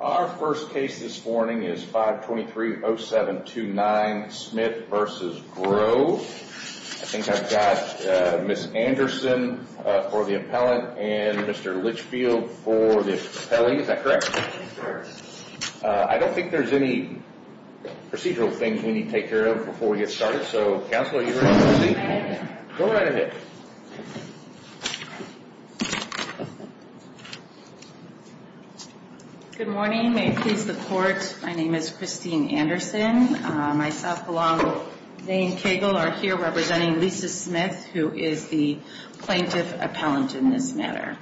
Our first case this morning is 523-0729 Smith v. Grove. I think I've got Ms. Anderson for the appellant and Mr. Litchfield for the appellee. Is that correct? That's correct. I don't think there's any procedural things we need to take care of before we get started. So, counsel, are you ready to proceed? Go right ahead. Good morning. May it please the court, my name is Christine Anderson. Myself, along with Zane Cagle, are here representing Lisa Smith, who is the plaintiff appellant in this matter.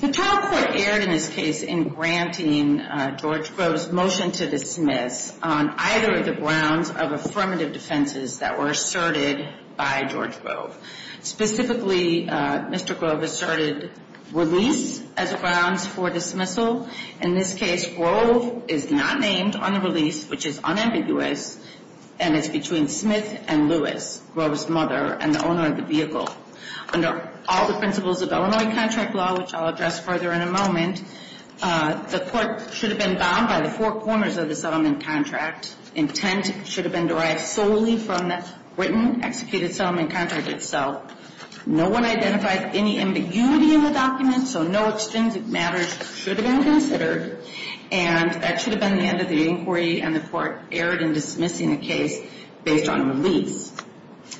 The trial court erred in this case in granting George Grove's motion to dismiss on either of the grounds of affirmative defenses that were asserted by George Grove. Specifically, Mr. Grove asserted release as grounds for dismissal. In this case, Grove is not named on the release, which is unambiguous, and it's between Smith and Lewis, Grove's mother and the owner of the vehicle. Under all the principles of Illinois contract law, which I'll address further in a moment, the court should have been bound by the four corners of the settlement contract. Intent should have been derived solely from the written, executed settlement contract itself. No one identified any ambiguity in the document, so no extrinsic matters should have been considered, and that should have been the end of the inquiry, and the court erred in dismissing the case based on release.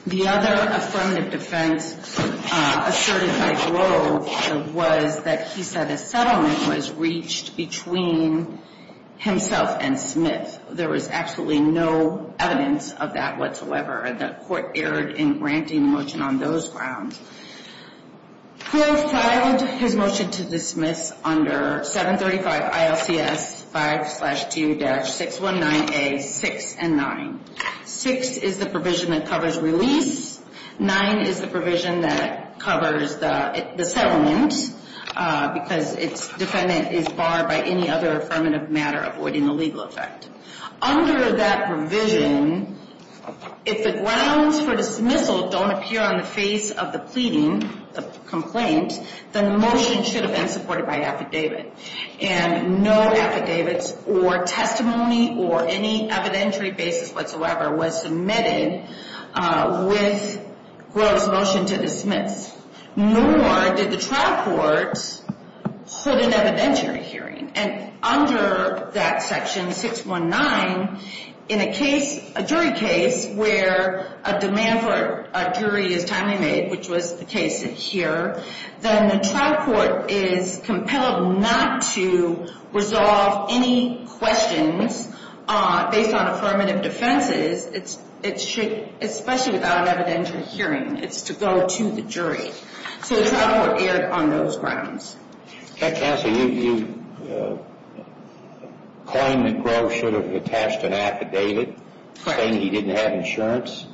The other affirmative defense asserted by Grove was that he said a settlement was reached between himself and Smith. There was absolutely no evidence of that whatsoever, and the court erred in granting the motion on those grounds. Grove filed his motion to dismiss under 735 ILCS 5-2-619A, 6 and 9. 6 is the provision that covers release. 9 is the provision that covers the settlement because its defendant is barred by any other affirmative matter avoiding the legal effect. Under that provision, if the grounds for dismissal don't appear on the face of the pleading, the complaint, then the motion should have been supported by affidavit, and no affidavits or testimony or any evidentiary basis whatsoever was submitted with Grove's motion to dismiss, nor did the trial court hold an evidentiary hearing. And under that section, 619, in a case, a jury case, where a demand for a jury is timely made, which was the case here, then the trial court is compelled not to resolve any questions based on affirmative defenses, especially without an evidentiary hearing. It's to go to the jury. So the trial court erred on those grounds. Counsel, you claim that Grove should have attached an affidavit saying he didn't have insurance?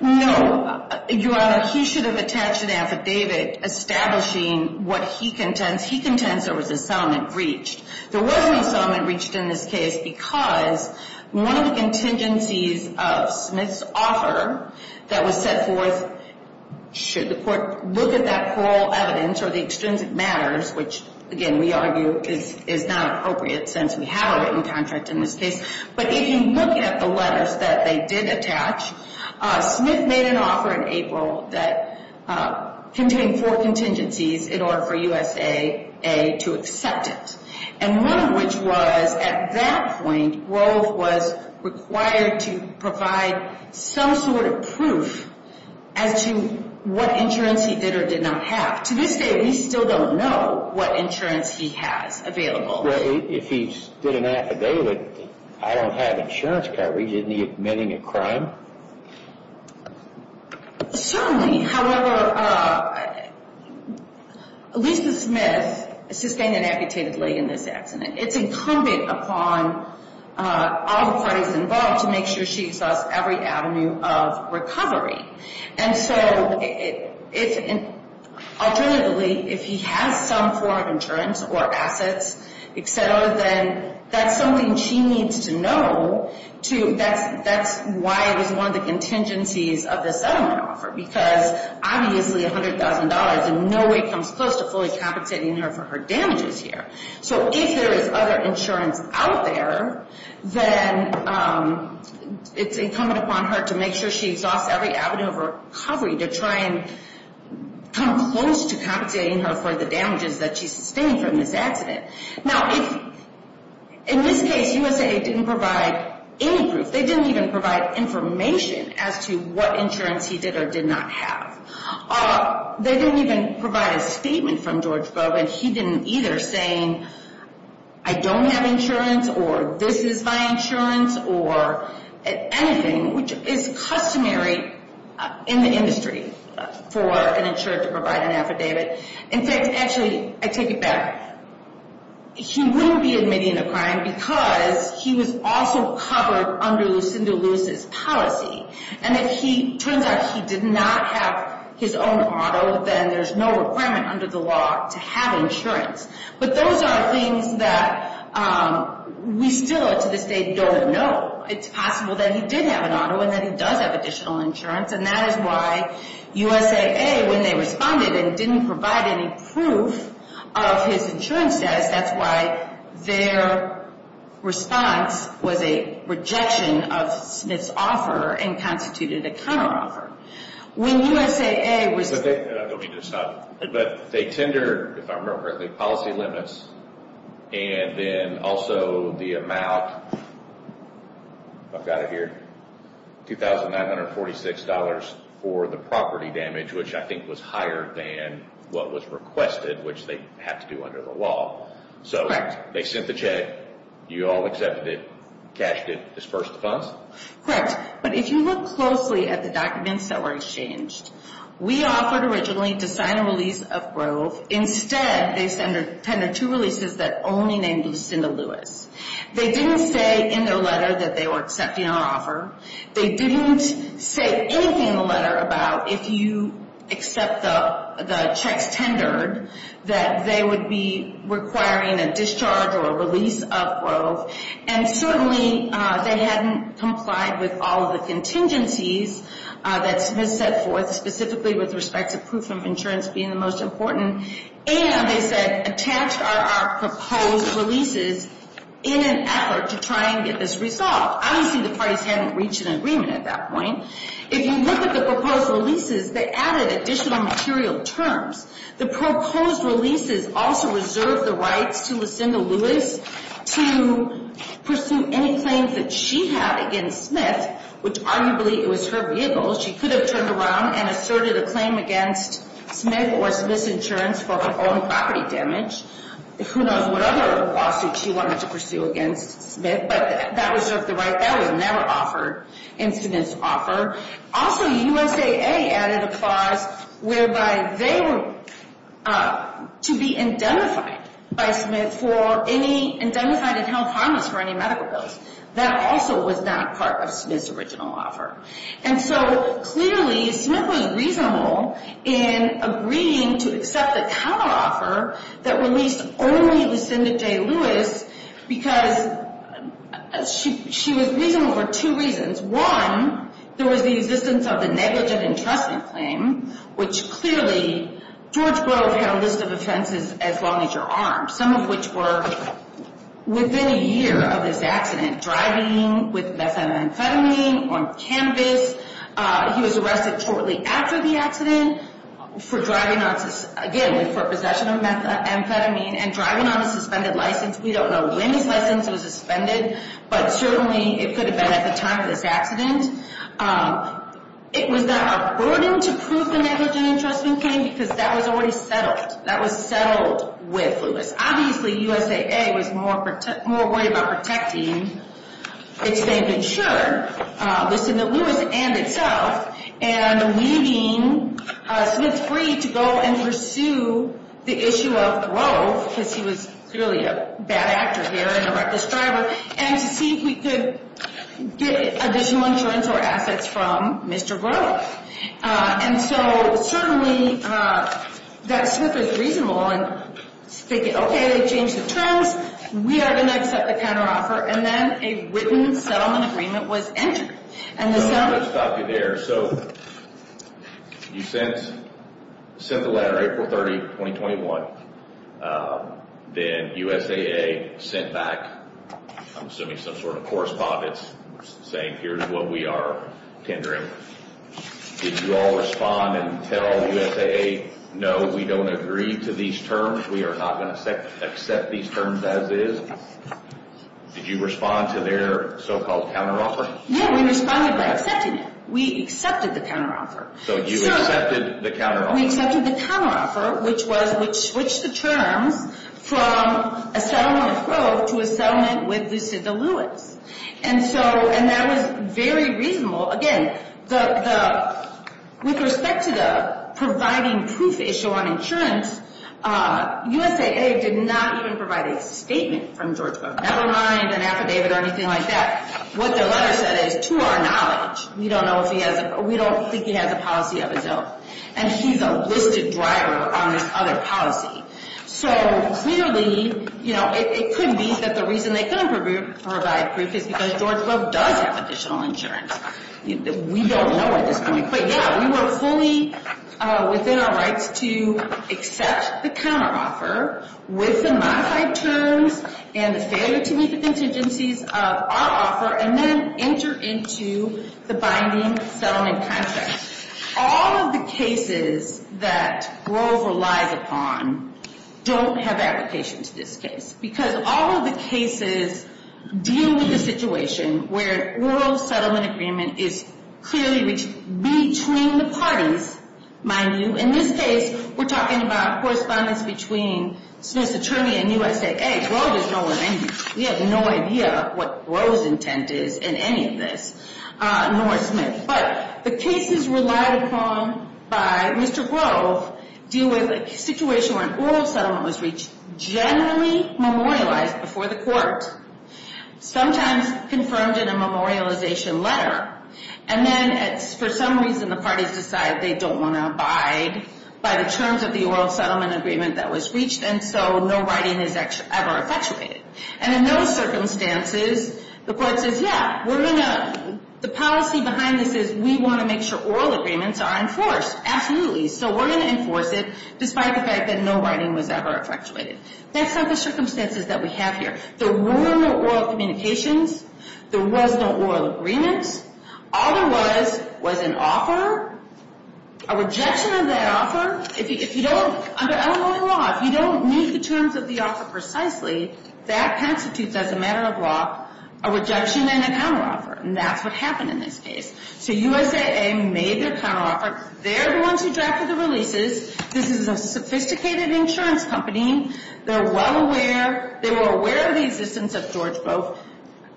No, Your Honor. He should have attached an affidavit establishing what he contends. He contends there was a settlement breached. There wasn't a settlement breached in this case because one of the contingencies of Smith's offer that was set forth, should the court look at that plural evidence or the extrinsic matters, which, again, we argue is not appropriate since we have a written contract in this case, but if you look at the letters that they did attach, Smith made an offer in April that contained four contingencies in order for USAA to accept it, and one of which was at that point, Grove was required to provide some sort of proof as to what insurance he did or did not have. To this day, we still don't know what insurance he has available. Well, if he did an affidavit, I don't have insurance coverage, isn't he admitting a crime? Certainly. However, Lisa Smith sustained an amputated leg in this accident. It's incumbent upon all the parties involved to make sure she exhausts every avenue of recovery. Alternatively, if he has some form of insurance or assets, etc., then that's something she needs to know. That's why it was one of the contingencies of the settlement offer because, obviously, $100,000 in no way comes close to fully capitating her for her damages here. So if there is other insurance out there, then it's incumbent upon her to make sure she exhausts every avenue of recovery to try and come close to compensating her for the damages that she sustained from this accident. Now, in this case, USAA didn't provide any proof. They didn't even provide information as to what insurance he did or did not have. They didn't even provide a statement from George Bogan. He didn't either, saying, I don't have insurance or this is my insurance or anything, which is customary in the industry for an insured to provide an affidavit. In fact, actually, I take it back. He wouldn't be admitting a crime because he was also covered under Lucinda Lewis's policy. And if he turns out he did not have his own auto, then there's no requirement under the law to have insurance. But those are things that we still, to this day, don't know. It's possible that he did have an auto and that he does have additional insurance, and that is why USAA, when they responded and didn't provide any proof of his insurance status, that's why their response was a rejection of Smith's offer and constituted a counteroffer. When USAA was... I don't mean to stop you, but they tendered, if I remember correctly, policy limits, and then also the amount, if I've got it here, $2,946 for the property damage, which I think was higher than what was requested, which they had to do under the law. So they sent the check, you all accepted it, cashed it, dispersed the funds? Correct. But if you look closely at the documents that were exchanged, we offered originally to sign a release of Grove. Instead, they tendered two releases that only named Lucinda Lewis. They didn't say in their letter that they were accepting our offer. They didn't say anything in the letter about if you accept the checks tendered, that they would be requiring a discharge or a release of Grove. And certainly they hadn't complied with all of the contingencies that Smith set forth, specifically with respect to proof of insurance being the most important. And they said, attach our proposed releases in an effort to try and get this resolved. Obviously, the parties hadn't reached an agreement at that point. If you look at the proposed releases, they added additional material terms. The proposed releases also reserved the rights to Lucinda Lewis to pursue any claims that she had against Smith, which arguably it was her vehicle. She could have turned around and asserted a claim against Smith or Smith's insurance for her own property damage. Who knows what other lawsuits she wanted to pursue against Smith, but that reserved the right. That was never offered in Smith's offer. Also, USAA added a clause whereby they were to be indemnified by Smith for any indemnified and held harmless for any medical bills. That also was not part of Smith's original offer. And so clearly, Smith was reasonable in agreeing to accept the counteroffer that released only Lucinda J. Lewis, because she was reasonable for two reasons. One, there was the existence of the negligent entrustment claim, which clearly George Grove had a list of offenses as long as you're armed, some of which were within a year of his accident, driving with methamphetamine on campus. He was arrested shortly after the accident for driving on, again, for possession of methamphetamine and driving on a suspended license. We don't know when his license was suspended, but certainly it could have been at the time of this accident. It was not a burden to prove the negligent entrustment claim because that was already settled. That was settled with Lewis. Obviously, USAA was more worried about protecting its named insurer, Lucinda Lewis and itself, and leaving Smith free to go and pursue the issue of Grove, because he was clearly a bad actor here and a reckless driver, and to see if we could get additional insurance or assets from Mr. Grove. And so certainly that Smith was reasonable in thinking, okay, they've changed the terms. We are going to accept the counteroffer. And then a written settlement agreement was entered. And the settlement— I'm going to stop you there. So you sent the letter April 30, 2021. Then USAA sent back, I'm assuming some sort of correspondence, saying here's what we are tendering. Did you all respond and tell USAA, no, we don't agree to these terms? We are not going to accept these terms as is? Did you respond to their so-called counteroffer? No, we responded by accepting it. We accepted the counteroffer. So you accepted the counteroffer. We accepted the counteroffer, which was—which switched the terms from a settlement of Grove to a settlement with Lucinda Lewis. And so—and that was very reasonable. Again, the—with respect to the providing proof issue on insurance, USAA did not even provide a statement from George Grove. Never mind an affidavit or anything like that. What their letter said is, to our knowledge, we don't know if he has a—we don't think he has a policy of his own. And he's a listed driver on his other policy. So, clearly, you know, it could be that the reason they couldn't provide proof is because George Grove does have additional insurance. We don't know at this point. But, yeah, we were fully within our rights to accept the counteroffer with the modified terms and the failure to meet the contingencies of our offer, and then enter into the binding settlement contract. All of the cases that Grove relies upon don't have application to this case, because all of the cases deal with the situation where Grove's settlement agreement is clearly between the parties, mind you. In this case, we're talking about correspondence between Smith's attorney and USAA. Grove is no one—we have no idea what Grove's intent is in any of this, nor Smith. But the cases relied upon by Mr. Grove deal with a situation where an oral settlement was reached, generally memorialized before the court, sometimes confirmed in a memorialization letter. And then, for some reason, the parties decide they don't want to abide by the terms of the oral settlement agreement that was reached, and so no writing is ever effectuated. And in those circumstances, the court says, yeah, we're going to—the policy behind this is we want to make sure oral agreements are enforced. Absolutely. So we're going to enforce it, despite the fact that no writing was ever effectuated. That's not the circumstances that we have here. There were no oral communications. There was no oral agreements. All there was was an offer, a rejection of that offer. Under Illinois law, if you don't meet the terms of the offer precisely, that constitutes, as a matter of law, a rejection and a counteroffer. And that's what happened in this case. So USAA made their counteroffer. They're the ones who drafted the releases. This is a sophisticated insurance company. They're well aware—they were aware of the existence of George Grove.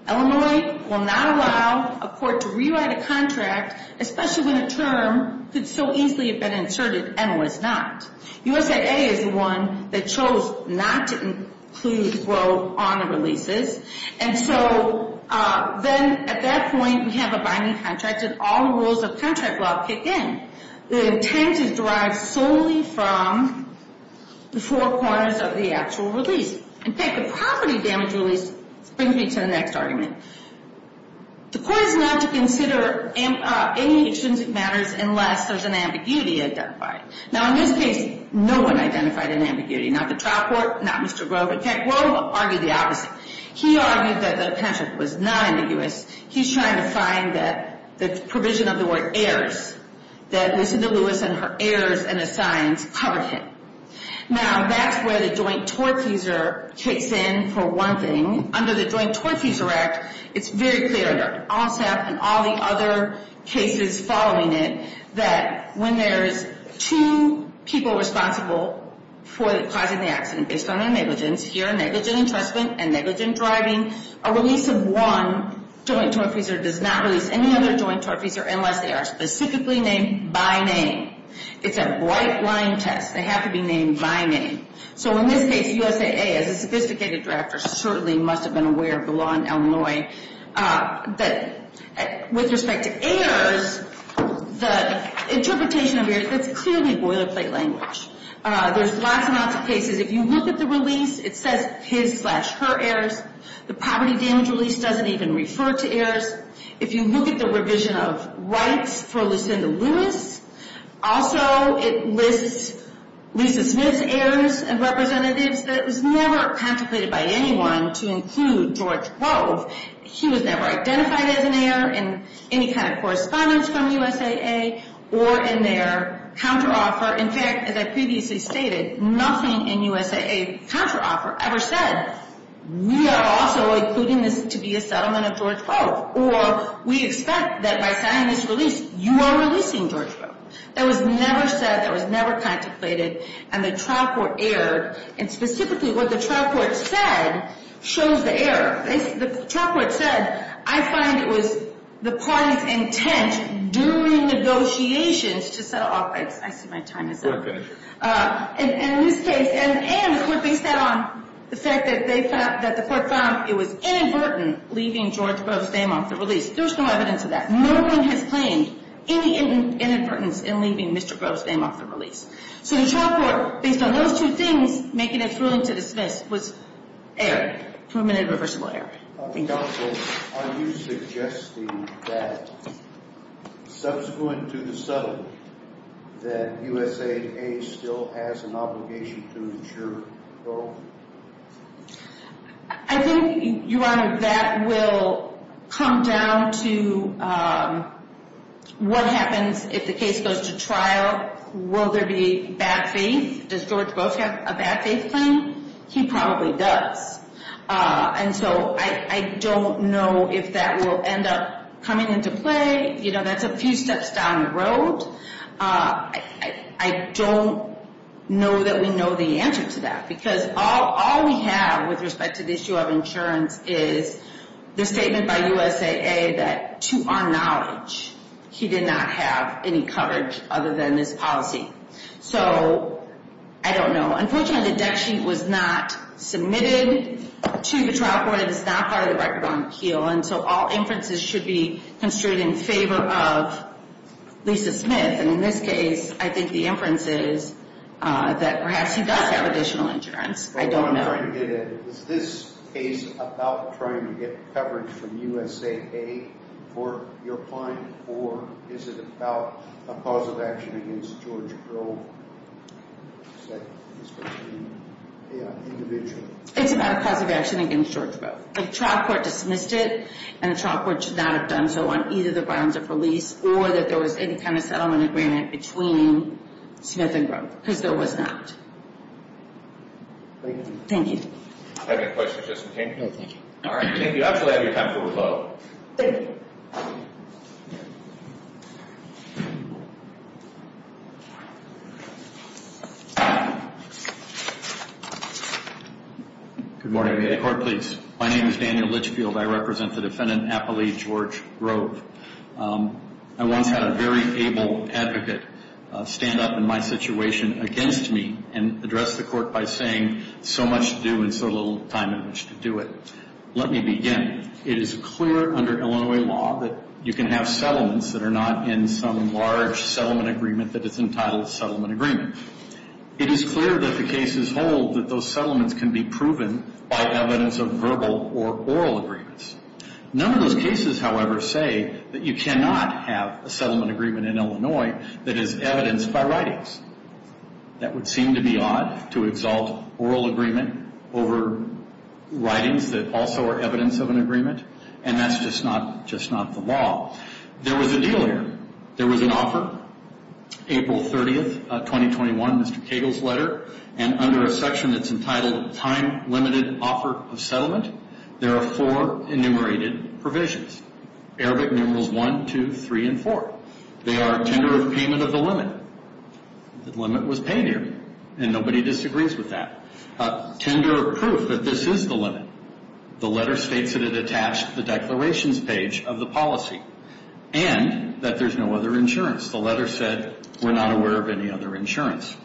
Illinois will not allow a court to rewrite a contract, especially when a term could so easily have been inserted and was not. USAA is the one that chose not to include George Grove on the releases. And so then at that point, we have a binding contract, and all the rules of contract law kick in. The intent is derived solely from the four corners of the actual release. In fact, the property damage release brings me to the next argument. The court is not to consider any extrinsic matters unless there's an ambiguity identified. Now, in this case, no one identified an ambiguity. Not the trial court, not Mr. Grove. In fact, Grove argued the opposite. He argued that the patent was not ambiguous. He's trying to find that the provision of the word heirs, that Lucinda Lewis and her heirs and assigns covered him. Now, that's where the joint tortfeasor kicks in for one thing. Under the Joint Tortfeasor Act, it's very clear under OSAP and all the other cases following it that when there's two people responsible for causing the accident based on their negligence— here, negligent entrustment and negligent driving— a release of one joint tortfeasor does not release any other joint tortfeasor unless they are specifically named by name. It's a bright line test. They have to be named by name. So in this case, USAA, as a sophisticated drafter, certainly must have been aware of the law in Illinois. But with respect to heirs, the interpretation of heirs, that's clearly boilerplate language. There's lots and lots of cases. If you look at the release, it says his slash her heirs. The poverty damage release doesn't even refer to heirs. If you look at the revision of rights for Lucinda Lewis, also it lists Lisa Smith's heirs and representatives that was never contemplated by anyone to include George Grove. He was never identified as an heir in any kind of correspondence from USAA or in their counteroffer. In fact, as I previously stated, nothing in USAA counteroffer ever said, we are also including this to be a settlement of George Grove, or we expect that by signing this release, you are releasing George Grove. That was never said. That was never contemplated. And the trial court erred. And specifically what the trial court said shows the error. The trial court said, I find it was the party's intent during negotiations to settle off rights. I see my time is up. And in this case, and the court based that on the fact that they found, that the court found it was inadvertent leaving George Grove's name off the release. There's no evidence of that. No one has claimed any inadvertence in leaving Mr. Grove's name off the release. So the trial court, based on those two things, making a ruling to dismiss was error. Permanent and reversible error. Are you suggesting that subsequent to the settlement, that USAA still has an obligation to ensure Grove? I think, Your Honor, that will come down to what happens if the case goes to trial. Will there be bad faith? Does George Grove have a bad faith claim? He probably does. And so I don't know if that will end up coming into play. You know, that's a few steps down the road. I don't know that we know the answer to that. Because all we have with respect to the issue of insurance is the statement by USAA that, to our knowledge, he did not have any coverage other than his policy. So I don't know. Unfortunately, the debt sheet was not submitted to the trial court. And it's not part of the record on appeal. And so all inferences should be construed in favor of Lisa Smith. And in this case, I think the inference is that perhaps he does have additional insurance. I don't know. Is this case about trying to get coverage from USAA for your client? Or is it about a cause of action against George Grove? Is that supposed to be an individual? It's about a cause of action against George Grove. The trial court dismissed it. And the trial court should not have done so on either the grounds of release or that there was any kind of settlement agreement between Smith and Grove. Because there was not. Thank you. Do you have any questions, Justin King? No, thank you. All right. King, you actually have your time to revoke. Thank you. Good morning. May the court please. My name is Daniel Litchfield. I represent the defendant, Appali George Grove. I once had a very able advocate stand up in my situation against me and address the court by saying so much to do and so little time in which to do it. Let me begin. It is clear under Illinois law that you can have settlements that are not in some large settlement agreement that is entitled settlement agreement. It is clear that the cases hold that those settlements can be proven by evidence of verbal or oral agreements. None of those cases, however, say that you cannot have a settlement agreement in Illinois that is evidenced by writings. That would seem to be odd to exalt oral agreement over writings that also are evidence of an agreement, and that's just not the law. There was a deal here. There was an offer, April 30th, 2021, Mr. Cagle's letter, and under a section that's entitled time-limited offer of settlement, there are four enumerated provisions, Arabic numerals 1, 2, 3, and 4. They are tender of payment of the limit. The limit was paid here, and nobody disagrees with that. Tender of proof that this is the limit. The letter states that it attached the declarations page of the policy and that there's no other insurance. The letter said we're not aware of any other insurance.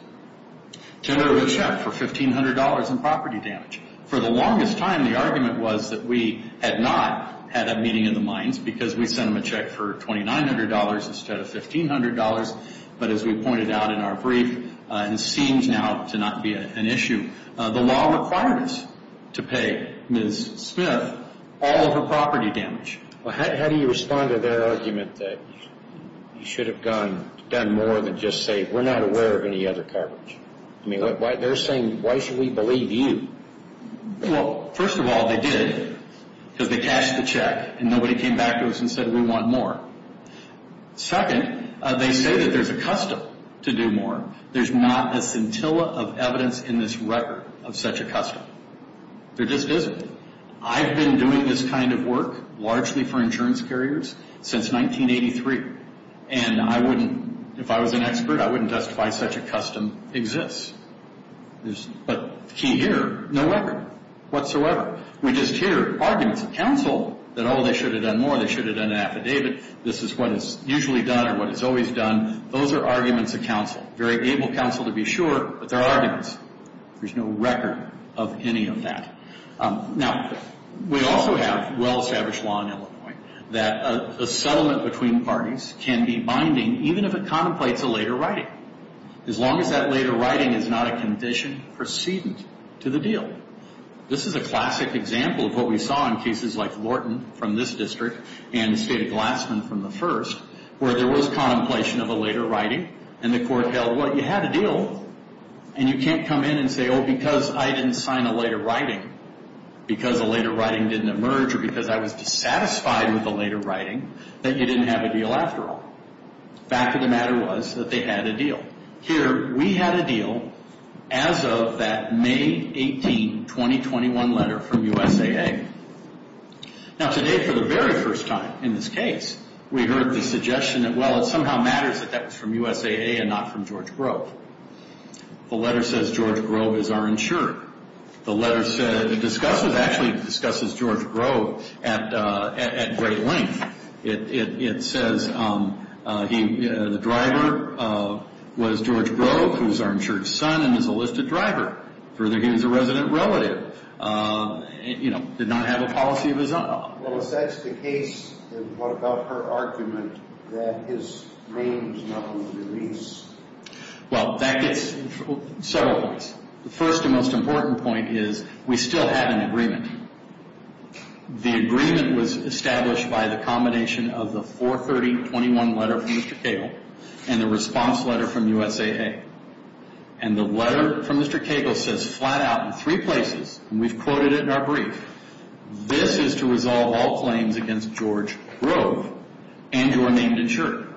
Tender of a check for $1,500 in property damage. For the longest time, the argument was that we had not had a meeting in the mines because we sent them a check for $2,900 instead of $1,500, but as we pointed out in our brief, it seems now to not be an issue. The law requires us to pay Ms. Smith all of her property damage. How do you respond to their argument that you should have done more than just say, we're not aware of any other coverage? I mean, they're saying, why should we believe you? Well, first of all, they did because they cashed the check and nobody came back to us and said we want more. Second, they say that there's a custom to do more. There's not a scintilla of evidence in this record of such a custom. There just isn't. I've been doing this kind of work largely for insurance carriers since 1983, and I wouldn't, if I was an expert, I wouldn't justify such a custom exists. But the key here, no record whatsoever. We just hear arguments of counsel that, oh, they should have done more. They should have done an affidavit. This is what is usually done or what is always done. Those are arguments of counsel, very able counsel to be sure, but they're arguments. There's no record of any of that. Now, we also have well-established law in Illinois that a settlement between parties can be binding even if it contemplates a later writing, as long as that later writing is not a condition precedent to the deal. This is a classic example of what we saw in cases like Lorton from this district and the State of Glassman from the first, where there was contemplation of a later writing, and the court held, well, you had a deal, and you can't come in and say, oh, because I didn't sign a later writing, because a later writing didn't emerge, or because I was dissatisfied with the later writing, that you didn't have a deal after all. The fact of the matter was that they had a deal. Here, we had a deal as of that May 18, 2021 letter from USAA. Now, today, for the very first time in this case, we heard the suggestion that, well, it somehow matters that that was from USAA and not from George Grove. The letter says George Grove is our insurer. The letter actually discusses George Grove at great length. It says the driver was George Grove, who is our insurer's son and is a listed driver. Further, he is a resident relative. He did not have a policy of his own. Well, if that's the case, then what about her argument that his name is not on the release? Well, that gets several points. The first and most important point is we still have an agreement. The agreement was established by the combination of the 4-30-21 letter from Mr. Cagle and the response letter from USAA. And the letter from Mr. Cagle says flat out in three places, and we've quoted it in our brief, this is to resolve all claims against George Grove and your named insurer.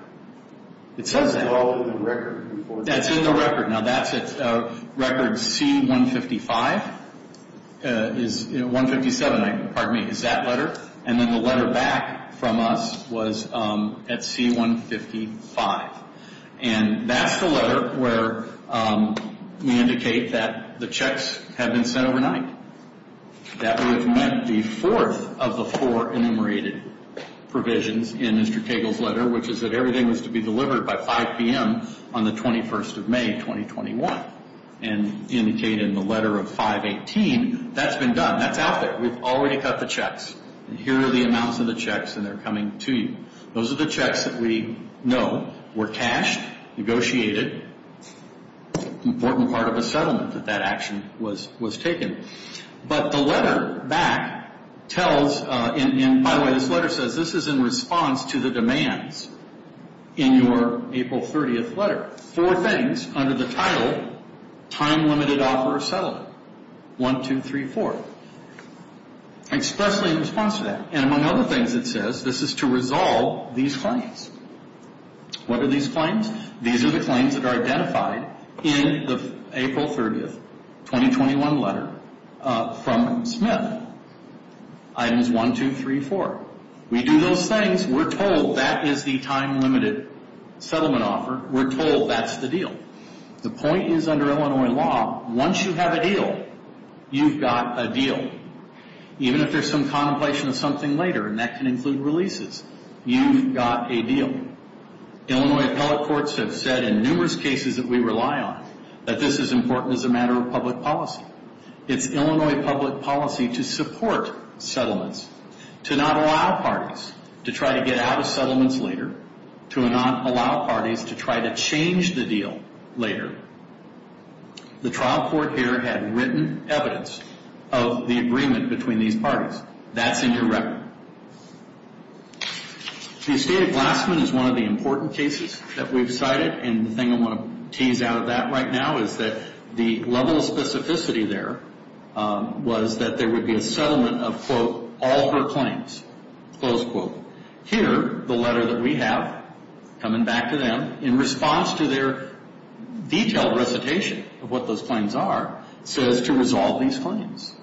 It says that. It's all in the record. That's in the record. Now, that's at record C-157 is that letter. And then the letter back from us was at C-155. And that's the letter where we indicate that the checks have been sent overnight, that we have met the fourth of the four enumerated provisions in Mr. Cagle's letter, which is that everything was to be delivered by 5 p.m. on the 21st of May, 2021, and indicated in the letter of 5-18. That's been done. That's out there. We've already cut the checks. And here are the amounts of the checks, and they're coming to you. Those are the checks that we know were cashed, negotiated, an important part of a settlement that that action was taken. But the letter back tells, and by the way, this letter says, this is in response to the demands in your April 30th letter. Four things under the title, time-limited offer of settlement. One, two, three, four. Expressly in response to that. And among other things it says, this is to resolve these claims. What are these claims? These are the claims that are identified in the April 30th, 2021 letter from Smith. Items one, two, three, four. We do those things. We're told that is the time-limited settlement offer. We're told that's the deal. The point is under Illinois law, once you have a deal, you've got a deal. Even if there's some contemplation of something later, and that can include releases, you've got a deal. Illinois appellate courts have said in numerous cases that we rely on that this is important as a matter of public policy. It's Illinois public policy to support settlements, to not allow parties to try to get out of settlements later, to not allow parties to try to change the deal later. The trial court here had written evidence of the agreement between these parties. That's in your record. The estate of Glassman is one of the important cases that we've cited, and the thing I want to tease out of that right now is that the level of specificity there was that there would be a settlement of, quote, all her claims, close quote. Here, the letter that we have, coming back to them, in response to their detailed recitation of what those claims are, says to resolve these claims.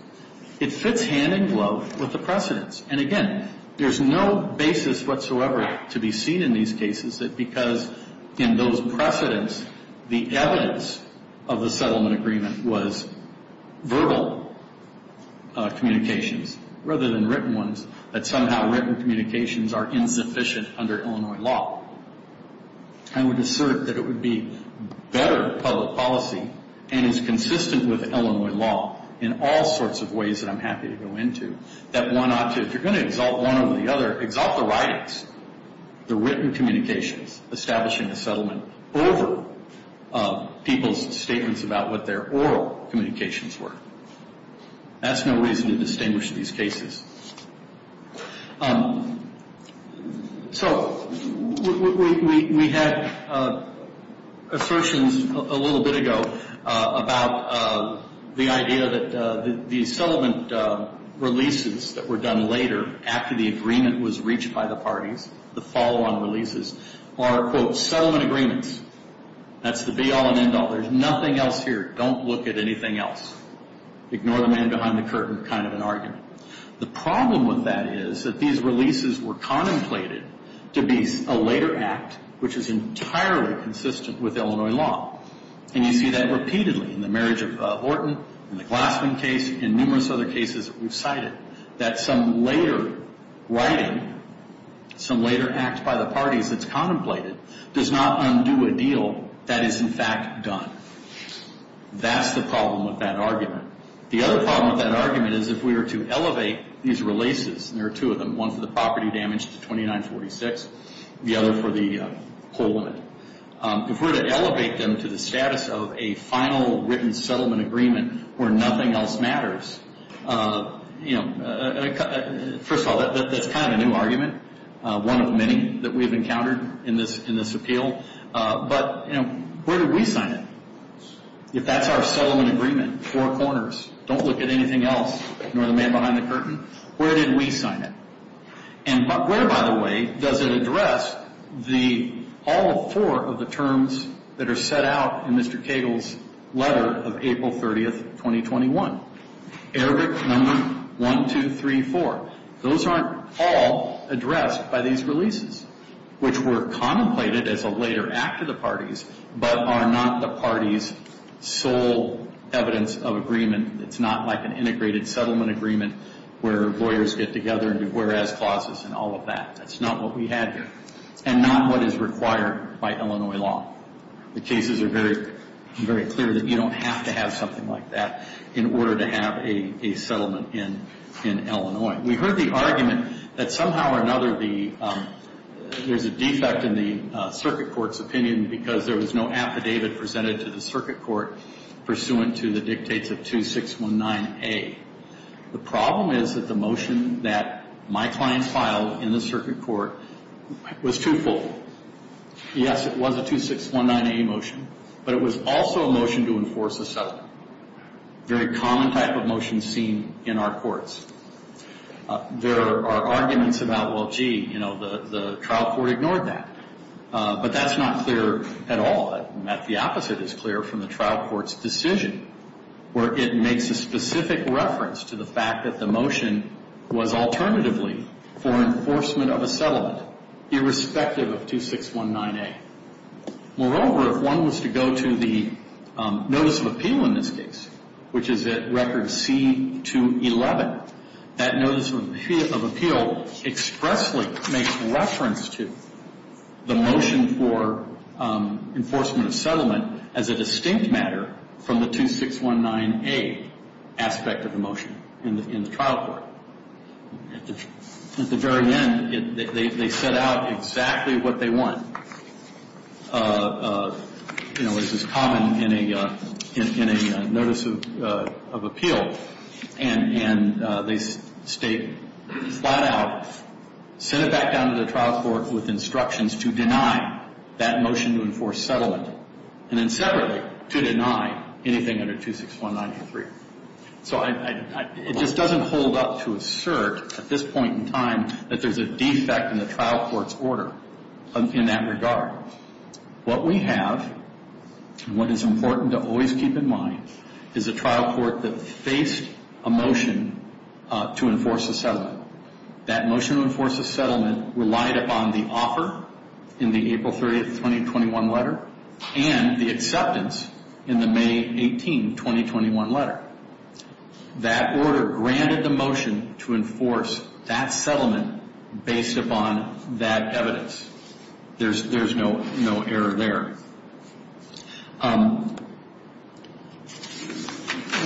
It fits hand and glove with the precedents, and again, there's no basis whatsoever to be seen in these cases because in those precedents, the evidence of the settlement agreement was verbal communications rather than written ones, that somehow written communications are insufficient under Illinois law. I would assert that it would be better public policy and is consistent with Illinois law in all sorts of ways that I'm happy to go into, that one ought to, if you're going to exalt one over the other, exalt the writings, the written communications, establishing a settlement over people's statements about what their oral communications were. That's no reason to distinguish these cases. So we had assertions a little bit ago about the idea that the settlement releases that were done later, after the agreement was reached by the parties, the follow-on releases, are, quote, settlement agreements. That's the be all and end all. There's nothing else here. Don't look at anything else. Ignore the man behind the curtain kind of an argument. The problem with that is that these releases were contemplated to be a later act, which is entirely consistent with Illinois law. And you see that repeatedly in the marriage of Horton, in the Glassman case, in numerous other cases that we've cited, that some later writing, some later act by the parties that's contemplated does not undo a deal that is, in fact, done. That's the problem with that argument. The other problem with that argument is if we were to elevate these releases, and there are two of them, one for the property damage to 2946, the other for the poll limit, if we were to elevate them to the status of a final written settlement agreement where nothing else matters, you know, first of all, that's kind of a new argument, one of many that we've encountered in this appeal. But, you know, where do we sign it? If that's our settlement agreement, four corners, don't look at anything else, ignore the man behind the curtain, where did we sign it? And where, by the way, does it address all four of the terms that are set out in Mr. Cagle's letter of April 30th, 2021? Error number 1234. Those aren't all addressed by these releases, which were contemplated as a later act of the parties but are not the parties' sole evidence of agreement. It's not like an integrated settlement agreement where lawyers get together and do whereas clauses and all of that. That's not what we had here, and not what is required by Illinois law. The cases are very clear that you don't have to have something like that in order to have a settlement in Illinois. We heard the argument that somehow or another there's a defect in the circuit court's opinion because there was no affidavit presented to the circuit court pursuant to the dictates of 2619A. The problem is that the motion that my clients filed in the circuit court was twofold. Yes, it was a 2619A motion, but it was also a motion to enforce a settlement, a very common type of motion seen in our courts. There are arguments about, well, gee, you know, the trial court ignored that. But that's not clear at all. In fact, the opposite is clear from the trial court's decision, where it makes a specific reference to the fact that the motion was alternatively for enforcement of a settlement, irrespective of 2619A. Moreover, if one was to go to the notice of appeal in this case, which is at record C211, that notice of appeal expressly makes reference to the motion for enforcement of settlement as a distinct matter from the 2619A aspect of the motion in the trial court. At the very end, they set out exactly what they want. You know, this is common in a notice of appeal. And they state flat out, send it back down to the trial court with instructions to deny that motion to enforce settlement and then separately to deny anything under 2619A. So it just doesn't hold up to assert at this point in time that there's a defect in the trial court's order in that regard. What we have, and what is important to always keep in mind, is a trial court that faced a motion to enforce a settlement. That motion to enforce a settlement relied upon the offer in the April 30, 2021 letter and the acceptance in the May 18, 2021 letter. That order granted the motion to enforce that settlement based upon that evidence. There's no error there.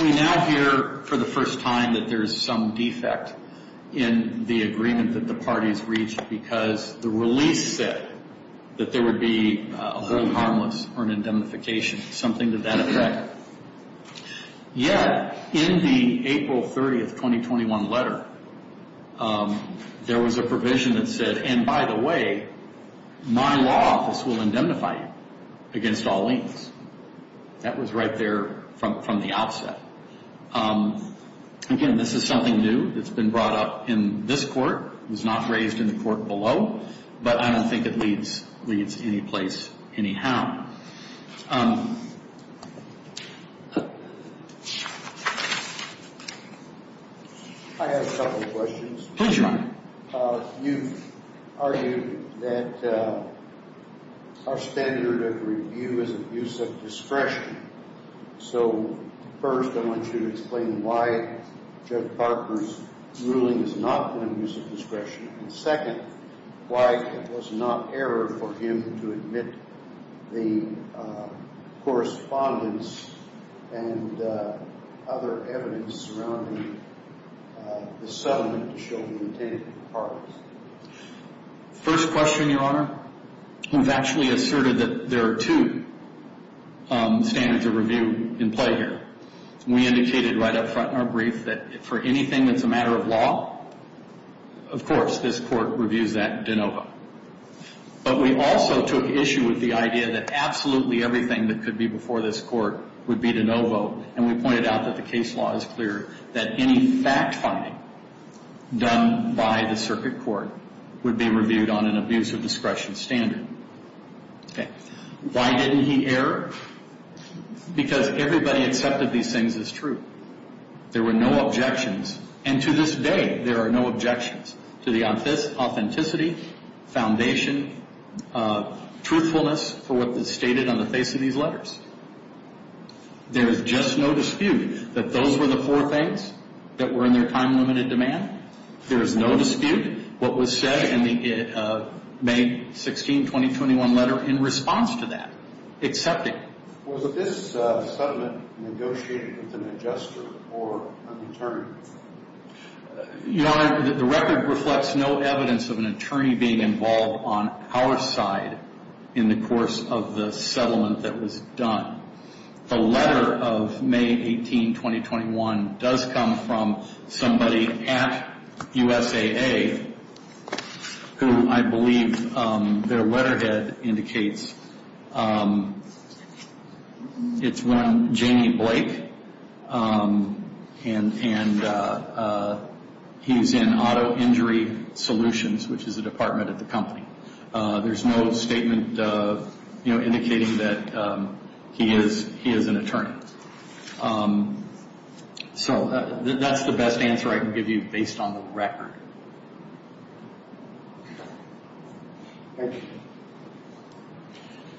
We now hear for the first time that there's some defect in the agreement that the parties reached because the release said that there would be a hold harmless or an indemnification. Something to that effect. Yet, in the April 30, 2021 letter, there was a provision that said, and by the way, my law office will indemnify you against all links. That was right there from the outset. Again, this is something new that's been brought up in this court. It was not raised in the court below, but I don't think it leads any place anyhow. I have a couple of questions. Please run. You've argued that our standard of review is abuse of discretion. First, I want you to explain why Judge Parker's ruling is not an abuse of discretion. Second, why it was not error for him to admit the correspondence and other evidence surrounding the settlement to show the intent of the parties. First question, Your Honor. You've actually asserted that there are two standards of review in play here. We indicated right up front in our brief that for anything that's a matter of law, of course this court reviews that de novo. But we also took issue with the idea that absolutely everything that could be before this court would be de novo, and we pointed out that the case law is clear that any fact-finding done by the circuit court would be reviewed on an abuse of discretion standard. Why didn't he err? Because everybody accepted these things as true. There were no objections, and to this day there are no objections to the authenticity, foundation, truthfulness for what is stated on the face of these letters. There is just no dispute that those were the four things that were in their time-limited demand. There is no dispute what was said in the May 16, 2021 letter in response to that, accepting. Was this settlement negotiated with an adjuster or an attorney? Your Honor, the record reflects no evidence of an attorney being involved on our side in the course of the settlement that was done. The letter of May 18, 2021 does come from somebody at USAA who I believe their letterhead indicates. It's one Jamie Blake, and he's in Auto Injury Solutions, which is a department at the company. There's no statement indicating that he is an attorney. So that's the best answer I can give you based on the record. Thank you.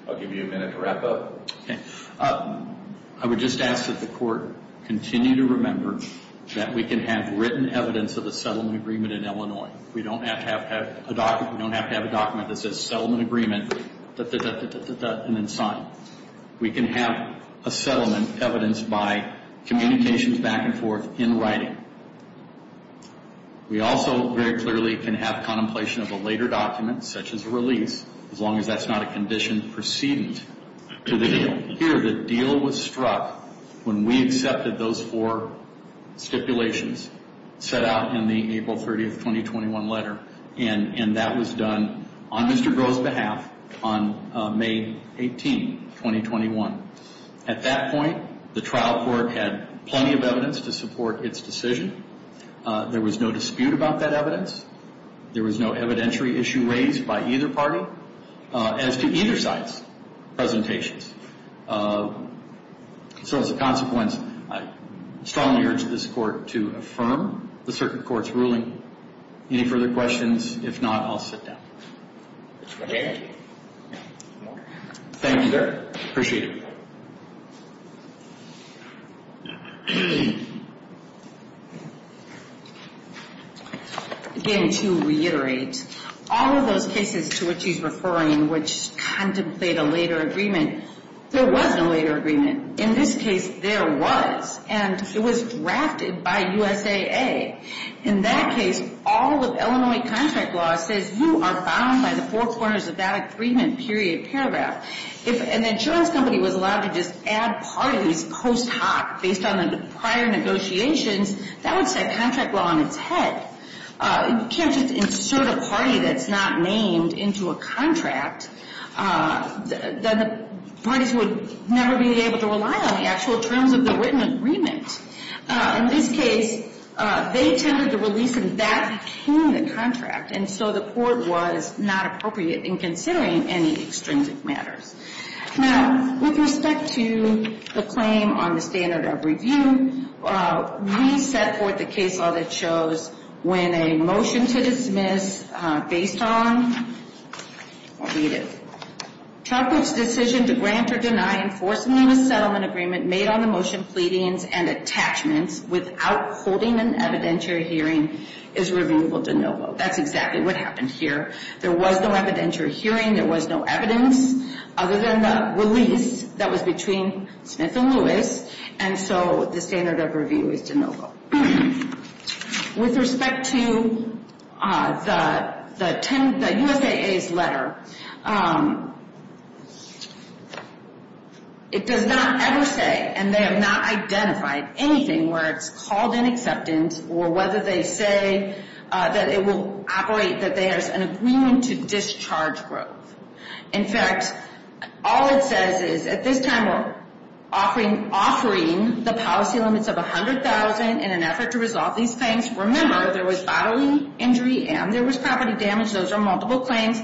I'll give you a minute to wrap up. Okay. I would just ask that the court continue to remember that we can have written evidence of a settlement agreement in Illinois. We don't have to have a document that says settlement agreement, and then sign. We can have a settlement evidenced by communications back and forth in writing. We also very clearly can have contemplation of a later document, such as a release, as long as that's not a condition precedent to the deal. The deal was struck when we accepted those four stipulations set out in the April 30, 2021 letter, and that was done on Mr. Groh's behalf on May 18, 2021. At that point, the trial court had plenty of evidence to support its decision. There was no dispute about that evidence. There was no evidentiary issue raised by either party as to either side's presentations. So as a consequence, I strongly urge this court to affirm the circuit court's ruling. Any further questions? If not, I'll sit down. Thank you, sir. Appreciate it. Again, to reiterate, all of those cases to which he's referring, which contemplate a later agreement, there was no later agreement. In this case, there was, and it was drafted by USAA. In that case, all of Illinois contract law says you are bound by the four corners of that agreement, period, paragraph. If an insurance company was allowed to just add parties post hoc based on the prior negotiations, that would set contract law on its head. You can't just insert a party that's not named into a contract. Then the parties would never be able to rely on the actual terms of the written agreement. In this case, they tendered the release, and that became the contract. And so the court was not appropriate in considering any extrinsic matters. Now, with respect to the claim on the standard of review, we set forth a case law that shows when a motion to dismiss based on, I'll read it. Chalkwood's decision to grant or deny enforcement of a settlement agreement made on the motion pleadings and attachments without holding an evidentiary hearing is reviewable de novo. That's exactly what happened here. There was no evidentiary hearing. There was no evidence other than the release that was between Smith and Lewis. And so the standard of review is de novo. With respect to the USAA's letter, it does not ever say, and they have not identified anything where it's called in acceptance, or whether they say that it will operate that there's an agreement to discharge growth. In fact, all it says is, at this time, we're offering the policy limits of $100,000 in an effort to resolve these claims. Remember, there was bodily injury and there was property damage. Those are multiple claims.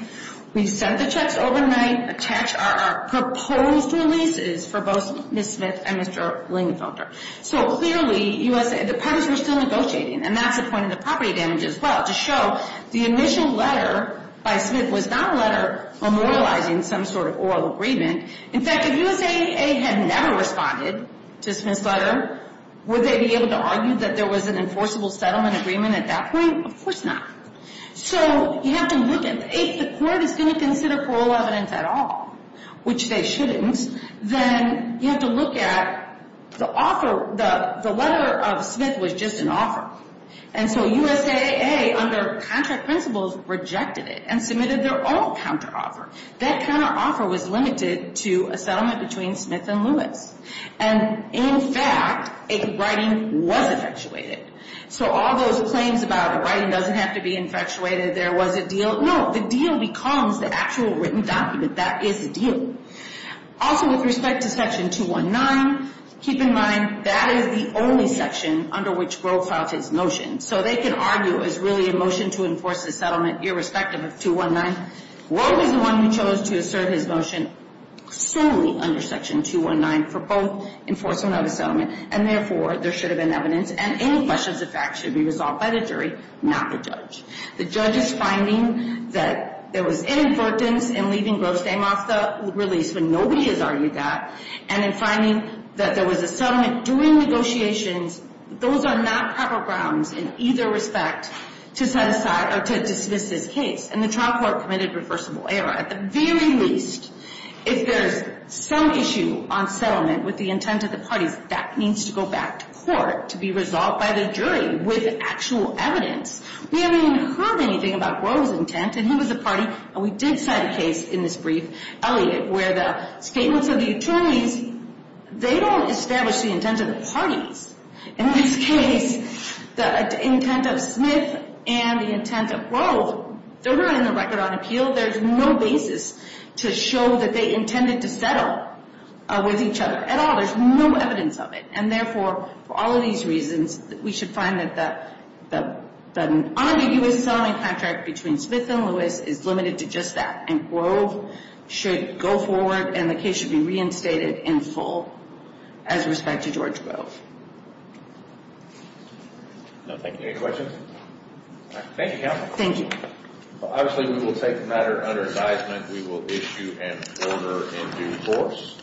We sent the checks overnight, attached our proposed releases for both Ms. Smith and Mr. Lingenfelter. So clearly, the parties were still negotiating, and that's a point of the property damage as well, to show the initial letter by Smith was not a letter memorializing some sort of oral agreement. In fact, if USAA had never responded to Smith's letter, would they be able to argue that there was an enforceable settlement agreement at that point? Of course not. So you have to look at it. If the court is going to consider parole evidence at all, which they shouldn't, then you have to look at the offer. The letter of Smith was just an offer. And so USAA, under contract principles, rejected it and submitted their own counteroffer. That counteroffer was limited to a settlement between Smith and Lewis. And in fact, a writing was infatuated. So all those claims about the writing doesn't have to be infatuated, there was a deal. No, the deal becomes the actual written document. That is the deal. Also, with respect to Section 219, keep in mind that is the only section under which Grove filed his motion. So they can argue, is really a motion to enforce a settlement irrespective of 219? Grove is the one who chose to assert his motion solely under Section 219 for both enforcement of a settlement, and therefore there should have been evidence, and any questions of fact should be resolved by the jury, not the judge. The judge is finding that there was inadvertence in leaving Grove's name off the release when nobody has argued that, and in finding that there was a settlement during negotiations, those are not proper grounds in either respect to set aside or to dismiss this case. And the trial court committed reversible error. At the very least, if there's some issue on settlement with the intent of the parties, that needs to go back to court to be resolved by the jury with actual evidence. We haven't even heard anything about Grove's intent, and he was a party, and we did cite a case in this brief, Elliot, where the statements of the attorneys, they don't establish the intent of the parties. In this case, the intent of Smith and the intent of Grove, they're not in the record on appeal. There's no basis to show that they intended to settle with each other at all. There's no evidence of it. And therefore, for all of these reasons, we should find that the non-abuse settlement contract between Smith and Lewis is limited to just that, and Grove should go forward and the case should be reinstated in full as respect to George Grove. Thank you. Any questions? Thank you, counsel. Thank you. Obviously, we will take the matter under advisement. We will issue an order in due course.